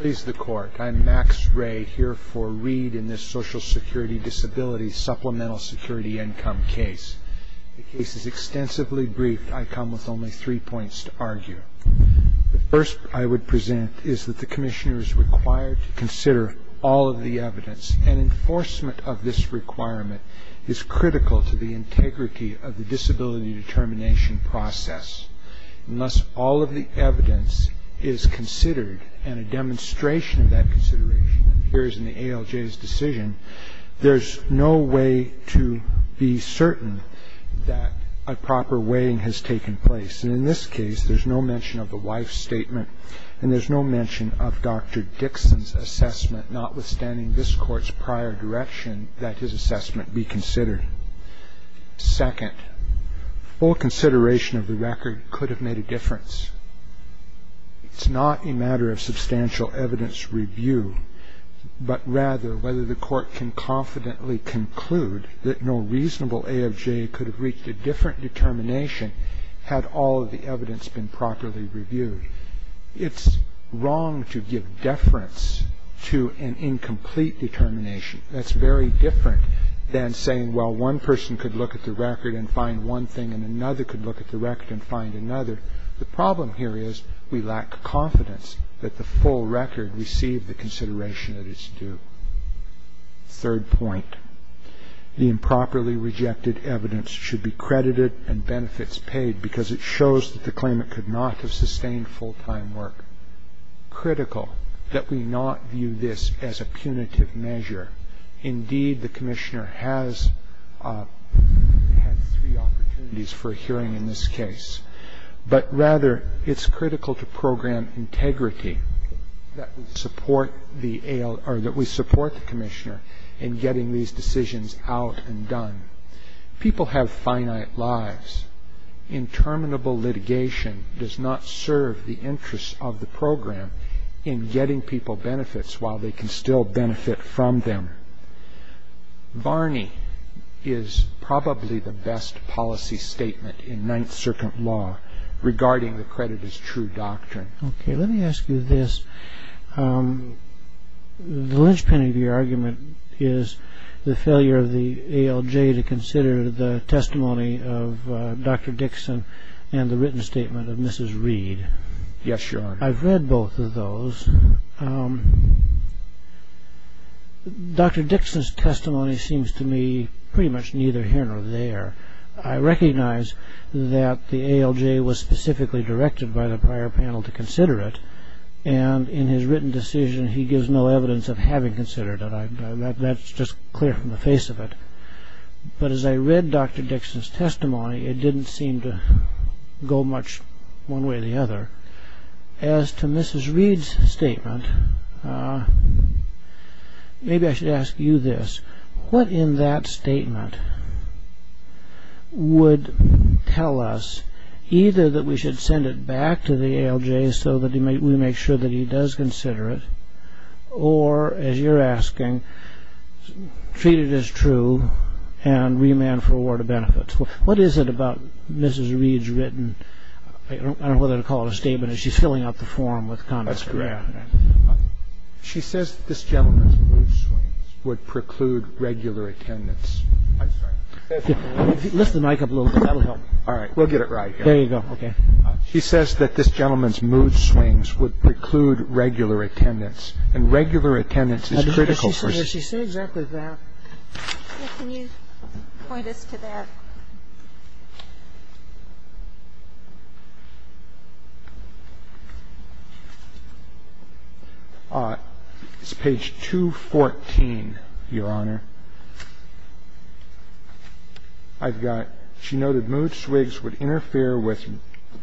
Please the court. I'm Max Ray here for Reed in this Social Security Disability Supplemental Security Income case. The case is extensively briefed. I come with only three points to argue. The first I would present is that the Commissioner is required to consider all of the evidence and enforcement of this requirement is critical to the integrity of the disability claim. The second point I would make is that there is no way to be certain that a proper weighing has taken place. And in this case, there's no mention of the wife's statement and there's no mention of Dr. Dixon's assessment, notwithstanding this Court's prior direction that his assessment be considered. Second, full consideration of the record could have made a difference. It's not a matter of substantial evidence review, but rather whether the Court can confidently conclude that no reasonable A of J could have reached a different determination had all of the evidence been properly reviewed. It's wrong to give deference to an incomplete determination. That's very different than saying, well, one person could look at the record and find one thing and another could look at the record and find another. The problem here is we lack confidence that the full record received the consideration that it's due. Third point, the improperly rejected evidence should be credited and benefits paid because it shows that the claimant could not have sustained full-time work. Critical that we not view this as a punitive measure. Indeed, the Commissioner has had three opportunities for hearing in this case, but rather it's critical to program integrity that we support the Commissioner in getting these decisions out and done. People have finite lives. Interminable litigation does not serve the interests of the program in getting people benefits while they can still benefit from them. Varney is probably the best policy statement in Ninth Circuit law regarding the credit as true doctrine. Okay, let me ask you this. The linchpin of your argument is the failure of the ALJ to consider the testimony of Dr. Dixon and the written statement of Mrs. Reed. Yes, Your Honor. I've read both of those. Dr. Dixon's testimony seems to me pretty much neither here nor there. I recognize that the ALJ was specifically directed by the prior panel to consider it and in his written decision he gives no evidence of having considered it. That's just clear from the face of it. But as I read Dr. Dixon's testimony, it didn't seem to go much one way or the other. As to Mrs. Reed's statement, maybe I should ask you this. What in that statement would tell us either that we should send it back to the ALJ so that we make sure that he does consider it or, as you're asking, treat it as true and remand for award of benefits? What is it about Mrs. Reed's written, I don't know whether to call it a statement, is she's filling out the form with condescension? She says that this gentleman's mood swings would preclude regular attendance. Lift the mic up a little bit. That'll help. She says that this gentleman's mood swings would preclude regular attendance, and regular attendance is critical. So I'm wondering, does she say exactly that? Can you point us to that? It's page 214, Your Honor. I've got, she noted mood swings would interfere with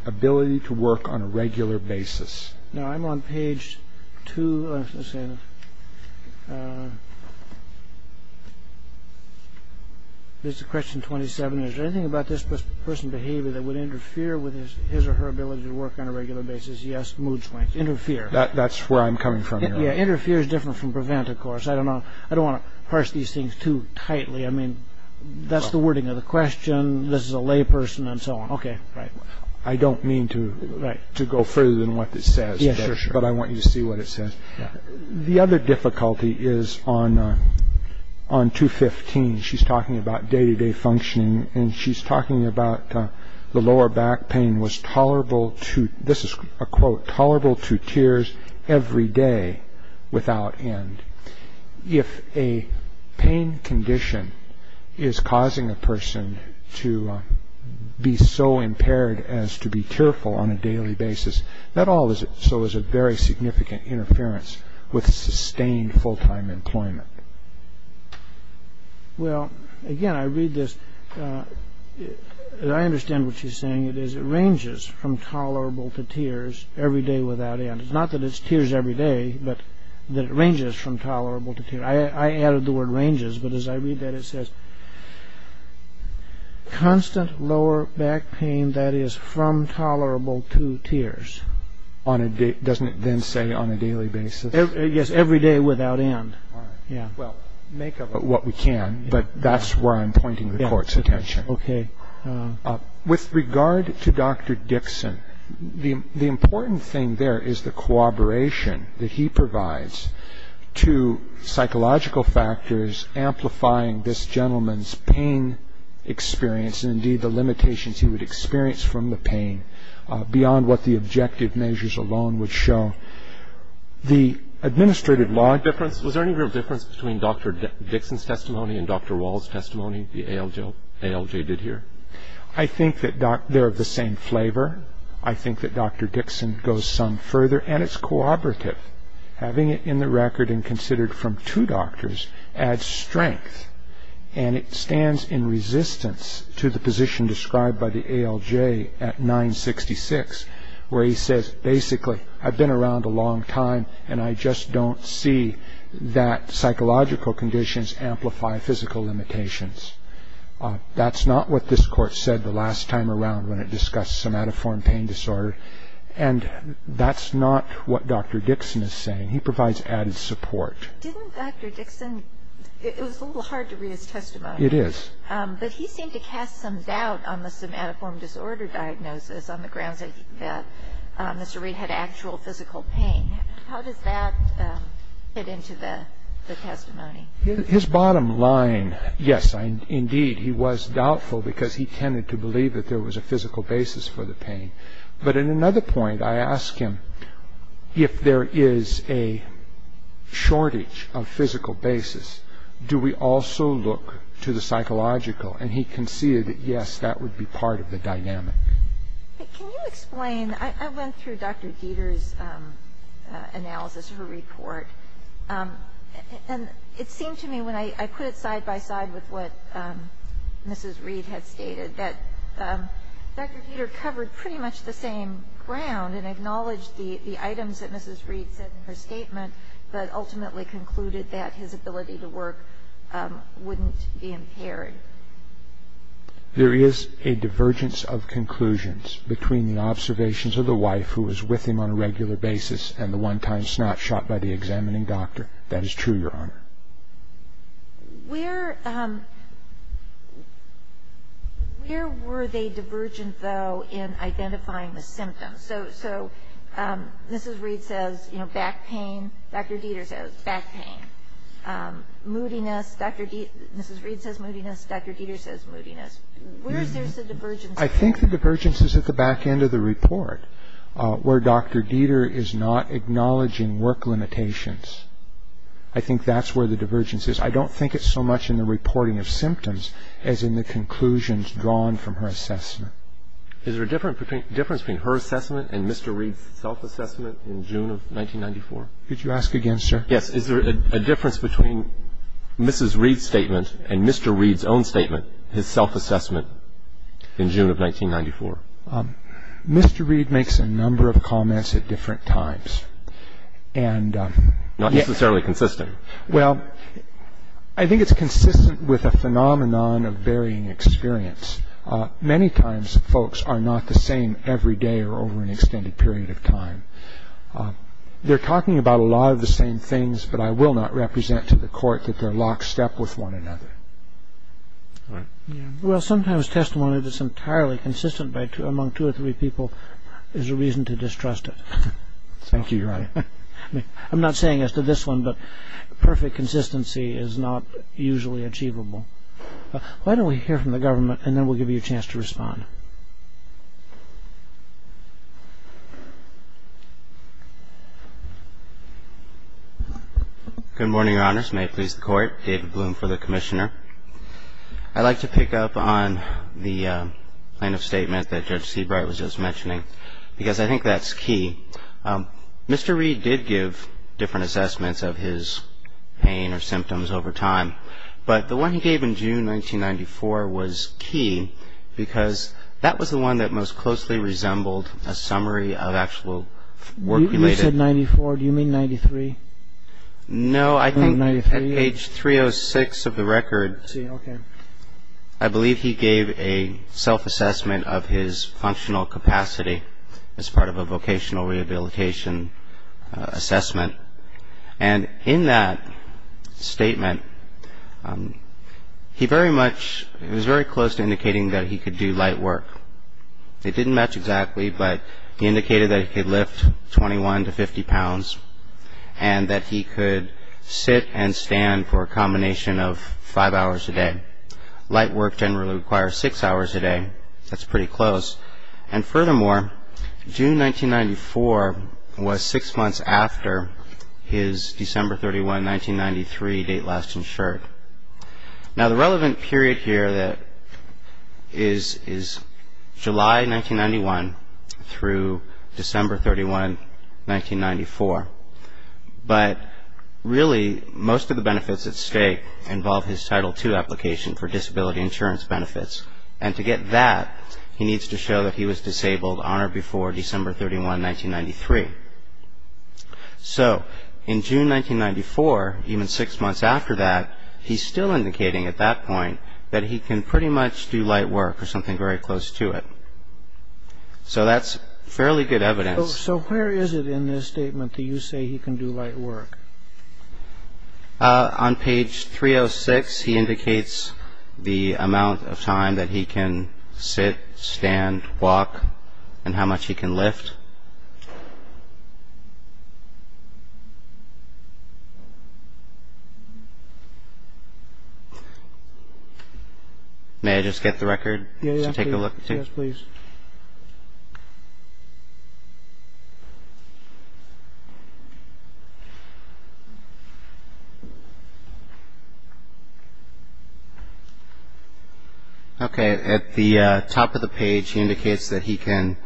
ability to work on a regular basis. No, I'm on page 227. Is there anything about this person's behavior that would interfere with his or her ability to work on a regular basis? Yes, mood swings. Interfere. That's where I'm coming from, Your Honor. Yeah, interfere is different from prevent, of course. I don't want to parse these things too tightly. I mean, that's the wording of the question, this is a lay person, and so on. Okay, right. I don't mean to go further than what it says, but I want you to see what it says. The other difficulty is on 215. She's talking about day-to-day functioning, and she's talking about the lower back pain was tolerable to, this is a quote, tolerable to tears every day without end. If a pain condition is causing a person to be so impaired as to not be able as to be tearful on a daily basis, that also is a very significant interference with sustained full-time employment. Well, again, I read this, and I understand what she's saying. It ranges from tolerable to tears every day without end. It's not that it's tears every day, but that it ranges from tolerable to tears. I added the word ranges, but as I read that, it says, constant lower back pain that is from tolerable to tears. Doesn't it then say on a daily basis? Yes, every day without end. All right. Well, make of it what we can, but that's where I'm pointing the court's attention. With regard to Dr. Dixon, the important thing there is the cooperation that he provides to psychological factors amplifying this gentleman's pain experience, and indeed the limitations he would experience from the pain beyond what the objective measures alone would show. The administrative law difference, was there any real difference between Dr. Dixon's testimony and Dr. Wall's testimony, the ALJ did here? I think that they're of the same flavor. I think that Dr. Dixon goes some further, and it's cooperative. Having it in the record and considered from two doctors adds strength, and it stands in resistance to the position described by the ALJ at 966, where he says, basically, I've been around a long time, and I just don't see that psychological conditions amplify physical limitations. That's not what this court said the last time around when it discussed somatoform pain disorder, and that's not what Dr. Dixon is saying. He provides added support. Didn't Dr. Dixon, it was a little hard to read his testimony. It is. But he seemed to cast some doubt on the somatoform disorder diagnosis on the grounds that Mr. Reed had actual physical pain. How does that fit into the testimony? His bottom line, yes, indeed, he was doubtful because he tended to believe that there was a physical basis for the pain. But at another point, I ask him, if there is a shortage of physical basis, do we also look to the psychological? And he conceded that, yes, that would be part of the dynamic. Can you explain? I went through Dr. Dieter's analysis of her report, and it seemed to me when I put it side by side with what Mrs. Reed had stated, that Dr. Dieter covered pretty much the same ground and acknowledged the items that Mrs. Reed said in her statement, but ultimately concluded that his ability to work wouldn't be impaired. There is a divergence of conclusions between the observations of the wife who was with him on a regular basis and the one-time snot shot by the examining doctor. That is true, Your Honor. Where were they divergent, though, in identifying the symptoms? So Mrs. Reed says, you know, back pain. Dr. Dieter says back pain. Moodiness, Dr. Dieter, Mrs. Reed says moodiness. Dr. Dieter says moodiness. Where is there a divergence? I think the divergence is at the back end of the report, where Dr. Dieter is not acknowledging work limitations. I think that's where the divergence is. I don't think it's so much in the reporting of symptoms as in the conclusions drawn from her assessment. Is there a difference between her assessment and Mr. Reed's self-assessment in June of 1994? Could you ask again, sir? Yes. Is there a difference between Mrs. Reed's statement and Mr. Reed's own statement, his self-assessment, in June of 1994? Mr. Reed makes a number of comments at different times. Not necessarily consistent. Well, I think it's consistent with a phenomenon of varying experience. Many times folks are not the same every day or over an extended period of time. They're talking about a lot of the same things, but I will not represent to the Court that they're lockstep with one another. Well, sometimes testimony that's entirely consistent among two or three people is a reason to distrust it. I think you're right. I'm not saying as to this one, but perfect consistency is not usually achievable. Why don't we hear from the government, and then we'll give you a chance to respond. Good morning, Your Honors. May it please the Court. David Bloom for the Commissioner. I'd like to pick up on the plaintiff's statement that Judge Seabright was just mentioning, because I think that's key. Mr. Reed did give different assessments of his pain or symptoms over time, but the one he gave in June 1994 was key, because that was the one that most closely resembled a summary of actual work related. You said 94. Do you mean 93? No, I think at page 306 of the record, I believe he gave a self-assessment of his functional capacity as part of a vocational rehabilitation assessment. And in that statement, I think he was very close to indicating that he could do light work. It didn't match exactly, but he indicated that he could lift 21 to 50 pounds, and that he could sit and stand for a combination of five hours a day. Light work generally requires six hours a day. That's pretty close. And furthermore, June 1994 was six months after his December 31, 1993 date last month. He was disabled, disabled on or before December 31, 1993. So, in June 1994, even six months after that, he's still indicating at that point that he can pretty much do light work or something very close to it. So that's fairly good evidence. So where is it in this statement that you say he can do light work? On page 306, he indicates the amount of time that he can sit, stand, walk, and how much he can lift. May I just get the record to take a look? Yes, please. Okay, at the top of the page, he indicates that he can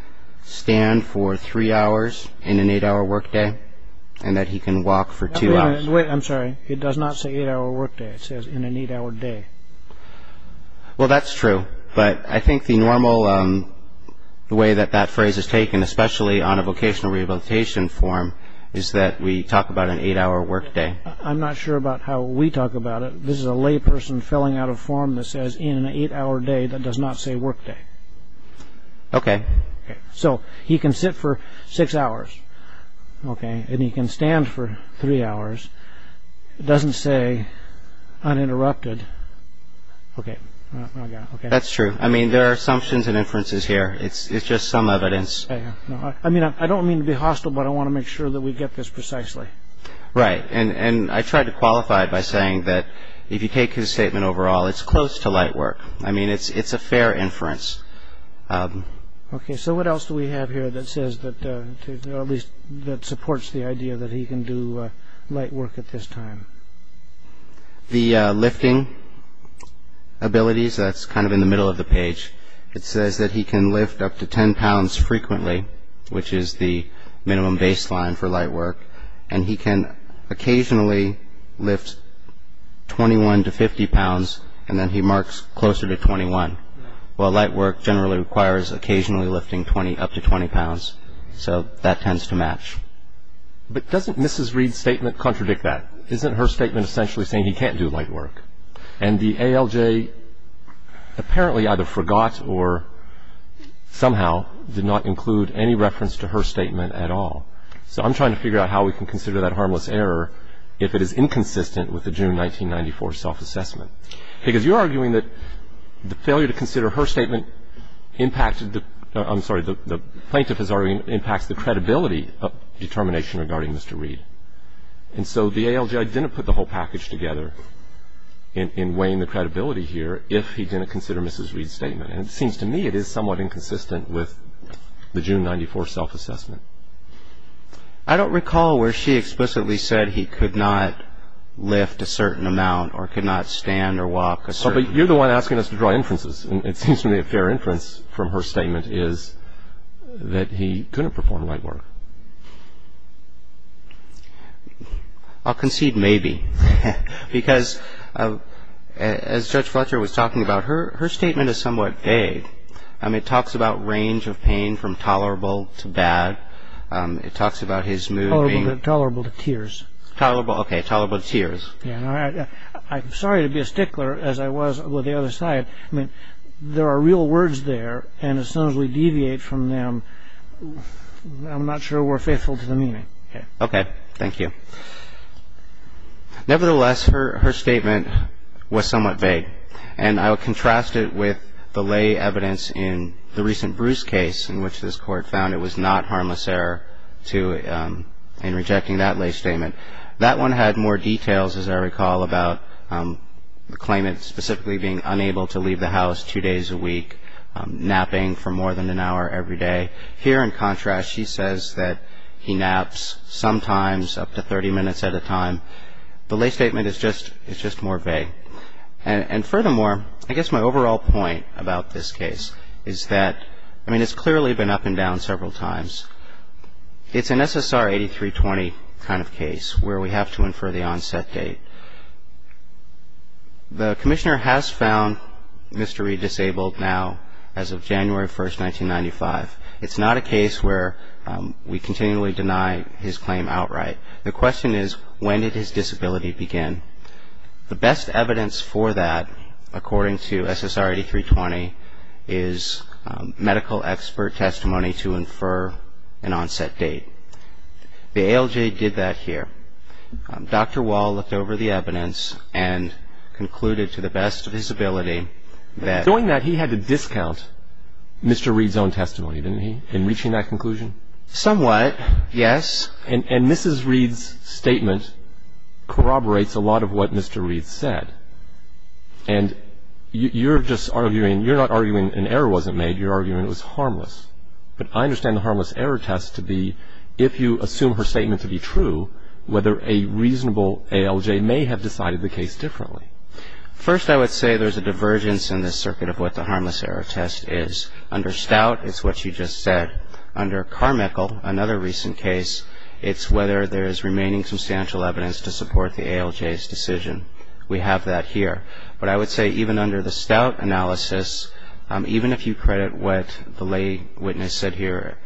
stand for three hours in an eight hour work day, and that he can walk for two hours. Wait, I'm sorry. It does not say eight hour work day. It says in an eight hour day. Well, that's true, but I think the normal way that that phrase is taken, especially on a vocational rehabilitation form, is that we talk about an eight hour work day. I'm not sure about how we talk about it. This is a layperson filling out a form that says in an eight hour day. That does not say work day. Okay. So, he can sit for six hours, okay, and he can stand for three hours. It doesn't say uninterrupted. Okay. That's true. I mean, there are assumptions and inferences here. It's just some evidence. I don't mean to be hostile, but I want to make sure that we get this precisely. Right, and I tried to qualify it by saying that if you take his statement overall, it's close to light work. I mean, it's a fair inference. Okay, so what else do we have here that says that, or at least that supports the idea that he can do light work at this time? The lifting abilities, that's kind of in the middle of the page. It says that he can lift up to 10 pounds frequently, which is the minimum baseline for light work, and he can occasionally lift 21 to 50 pounds, and then he marks closer to 21, while light work generally requires occasionally lifting up to 20 pounds, so that tends to match. But doesn't Mrs. Reed's statement contradict that? Isn't her statement essentially saying he can't do light work, and the ALJ apparently either forgot or somehow did not include any reference to her statement at all? So I'm trying to figure out how we can consider that harmless error if it is inconsistent with the June 1994 self-assessment, because you're arguing that the failure to consider her statement impacted the, I'm sorry, the plaintiff is arguing impacts the credibility of determination regarding Mr. Reed. And so the ALJ didn't put the whole package together in weighing the credibility here if he didn't consider Mrs. Reed's statement, and it seems to me it is somewhat inconsistent with the June 1994 self-assessment. I don't recall where she explicitly said he could not lift a certain amount or could not stand or walk a certain distance. But you're the one asking us to draw inferences, and it seems to me a fair inference from her statement is that he couldn't perform light work. I'll concede maybe, because as Judge Fletcher was talking about, her statement is somewhat vague. It talks about range of pain from tolerable to bad. It talks about his mood being... Tolerable to tears. Tolerable, okay, tolerable to tears. I'm sorry to be a stickler, as I was with the other side. I mean, there are real words there, and as soon as we deviate from them, I'm not sure we're faithful to the meaning. Okay, thank you. Nevertheless, her statement was somewhat vague, and I will contrast it with the lay evidence in the recent Bruce case in which this Court found it was not harmless error in rejecting that lay statement. That one had more details, as I recall, about the claimant specifically being unable to leave the house two days a week, napping for more than an hour every day. Here, in contrast, she says that he naps sometimes up to 30 minutes at a time. The lay statement is just more vague. And furthermore, I guess my overall point about this case is that, I mean, it's clearly been up and down several times. It's an SSR 8320 kind of case where we have to infer the onset date. The Commissioner has found Mr. Reed disabled now as of January 1st, 1995. It's not a case where we continually deny his claim outright. The question is, when did his disability begin? The best evidence for that, according to SSR 8320, is medical expert testimony to infer an onset date. The ALJ did that here. Dr. Wall looked over the evidence and concluded to the best of his ability that Doing that, he had to discount Mr. Reed's own testimony, didn't he, in reaching that conclusion? Somewhat, yes. And Mrs. Reed's statement corroborates a lot of what Mr. Reed said. And you're just arguing, you're not arguing an error wasn't made. You're arguing it was harmless. But I understand the harmless error test to be, if you assume her statement to be true, whether a reasonable ALJ may have decided the case differently. First, I would say there's a divergence in this circuit of what the harmless error test is. Under Stout, it's what you just said. Under Carmichael, another recent case, it's whether there is remaining substantial evidence to support the ALJ's decision. We have that here. But I would say even under the Stout analysis, even if you credit what the lay witness said here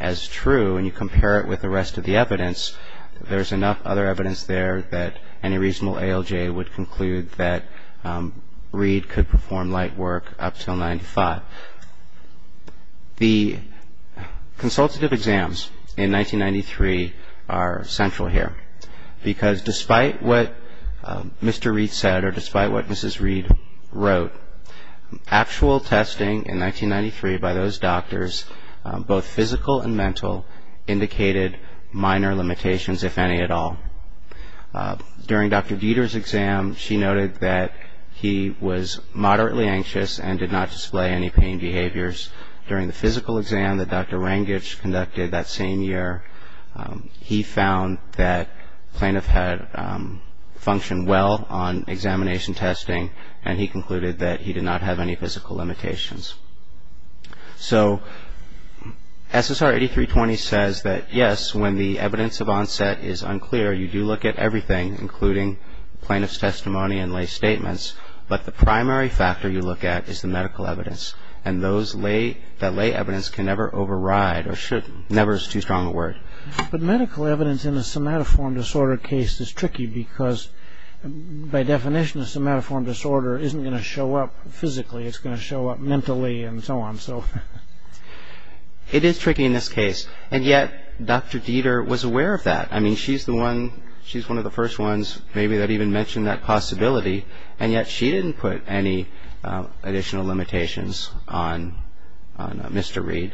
as true and you compare it with the rest of the evidence, there's enough other evidence there that any reasonable ALJ would conclude that Reed could perform light work up until 1995. The consultative exams in 1993 are central here. Because despite what Mr. Reed said or despite what Mrs. Reed wrote, actual testing in 1993 by those doctors, both physical and mental, indicated minor limitations, if any at all. During Dr. Dieter's exam, she noted that he was moderately anxious and did not display any pain behaviors. During the physical exam that Dr. Rangich conducted that same year, he found that plaintiff had functioned well on examination testing and he concluded that he did not have any physical limitations. So SSR 8320 says that, yes, when the evidence of onset is unclear, you do look at everything, including plaintiff's testimony and lay statements. But the primary factor you look at is the medical evidence. And that lay evidence can never override or never is too strong a word. But medical evidence in a somatoform disorder case is tricky because by definition a somatoform disorder isn't going to show up physically, it's going to show up mentally and so on. It is tricky in this case and yet Dr. Dieter was aware of that. I mean, she's one of the first ones maybe that even mentioned that possibility and yet she didn't put any additional limitations on Mr. Reed.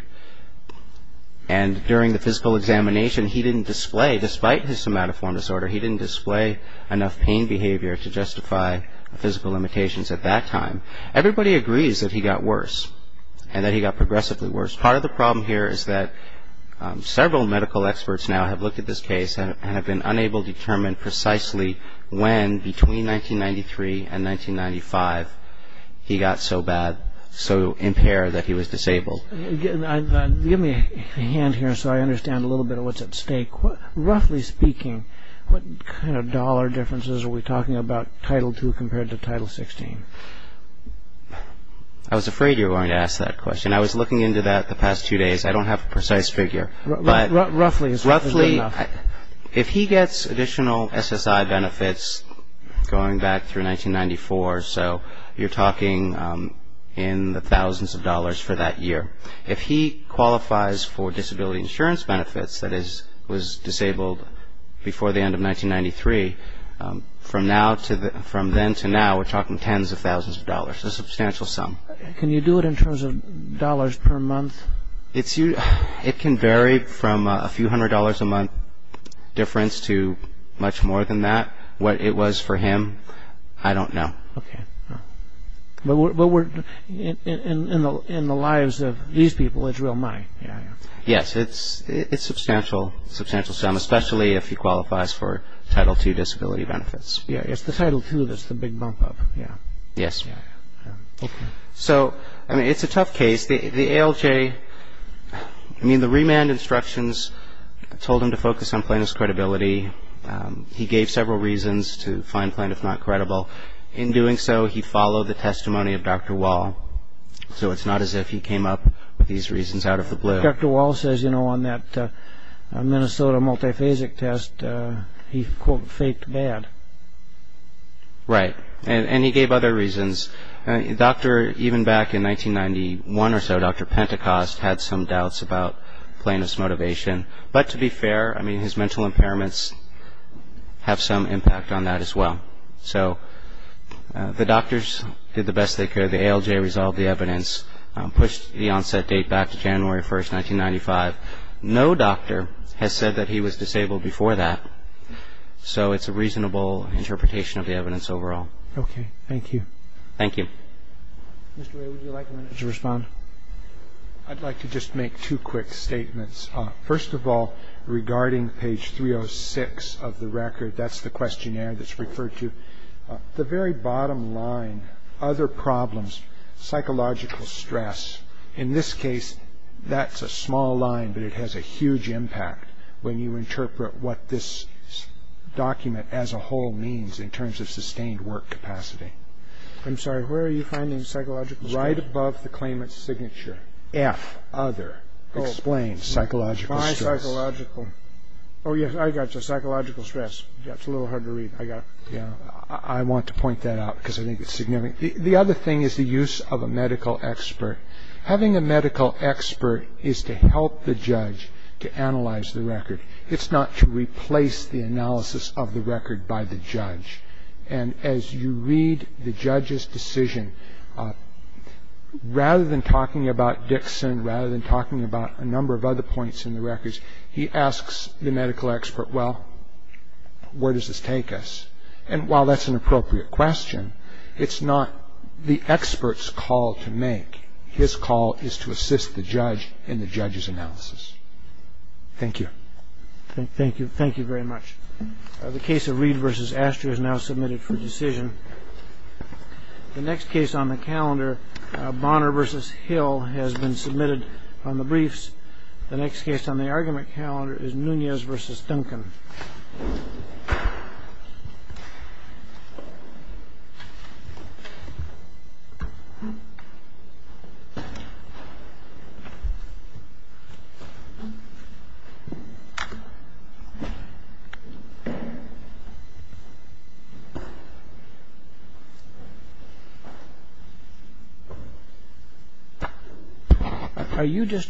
And during the physical examination, he didn't display, despite his somatoform disorder, he didn't display enough pain behavior to justify physical limitations at that time. Everybody agrees that he got worse and that he got progressively worse. Part of the problem here is that several medical experts now have looked at this case and have been unable to determine precisely when, between 1993 and 1995, he got so bad, so impaired that he was disabled. Give me a hand here so I understand a little bit of what's at stake. Roughly speaking, what kind of dollar differences are we talking about Title II compared to Title XVI? I was afraid you were going to ask that question. I was looking into that the past two days. I don't have a precise figure. If he gets additional SSI benefits going back through 1994, so you're talking in the thousands of dollars for that year. If he qualifies for disability insurance benefits, that is, was disabled before the end of 1993, from then to now we're talking tens of thousands of dollars, a substantial sum. Can you do it in terms of dollars per month? It can vary from a few hundred dollars a month difference to much more than that. What it was for him, I don't know. But in the lives of these people, it's real money. Yes, it's a substantial sum, especially if he qualifies for Title II disability benefits. It's the Title II that's the big bump up. Yes. So it's a tough case. The ALJ, I mean, the remand instructions told him to focus on plaintiff's credibility. He gave several reasons to find plaintiff not credible. In doing so, he followed the testimony of Dr. Wall. So it's not as if he came up with these reasons out of the blue. Dr. Wall says, you know, on that Minnesota multiphasic test, he, quote, faked bad. Right. And he gave other reasons. Doctor, even back in 1991 or so, Dr. Pentecost had some doubts about plaintiff's motivation. But to be fair, I mean, his mental impairments have some impact on that as well. So the doctors did the best they could. The ALJ resolved the evidence, pushed the onset date back to January 1, 1995. No doctor has said that he was disabled before that. So it's a reasonable interpretation of the evidence overall. Okay. Thank you. Thank you. Mr. Wray, would you like a minute to respond? I'd like to just make two quick statements. First of all, regarding page 306 of the record, that's the questionnaire that's referred to, the very bottom line, other problems, psychological stress, in this case, that's a small line, but it has a huge impact when you interpret what this document as a whole means in terms of sustained work capacity. I'm sorry. Where are you finding psychological stress? Right above the claimant's signature. F, other. Explain psychological stress. My psychological. Oh, yes, I got you. Psychological stress. That's a little hard to read. I got it. Yeah. I want to point that out because I think it's significant. The other thing is the use of a medical expert. Having a medical expert is to help the judge to analyze the record. It's not to replace the analysis of the record by the judge. And as you read the judge's decision, rather than talking about Dixon, rather than talking about a number of other points in the records, he asks the medical expert, well, where does this take us? And while that's an appropriate question, it's not the expert's call to make. His call is to assist the judge in the judge's analysis. Thank you. Thank you. Thank you very much. The case of Reed v. Astor is now submitted for decision. The next case on the calendar, Bonner v. Hill, has been submitted on the briefs. The next case on the argument calendar is Nunez v. Duncan. Thank you.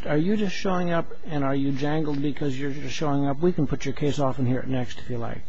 Are you just showing up and are you jangled because you're just showing up? We can put your case off and hear it next if you like.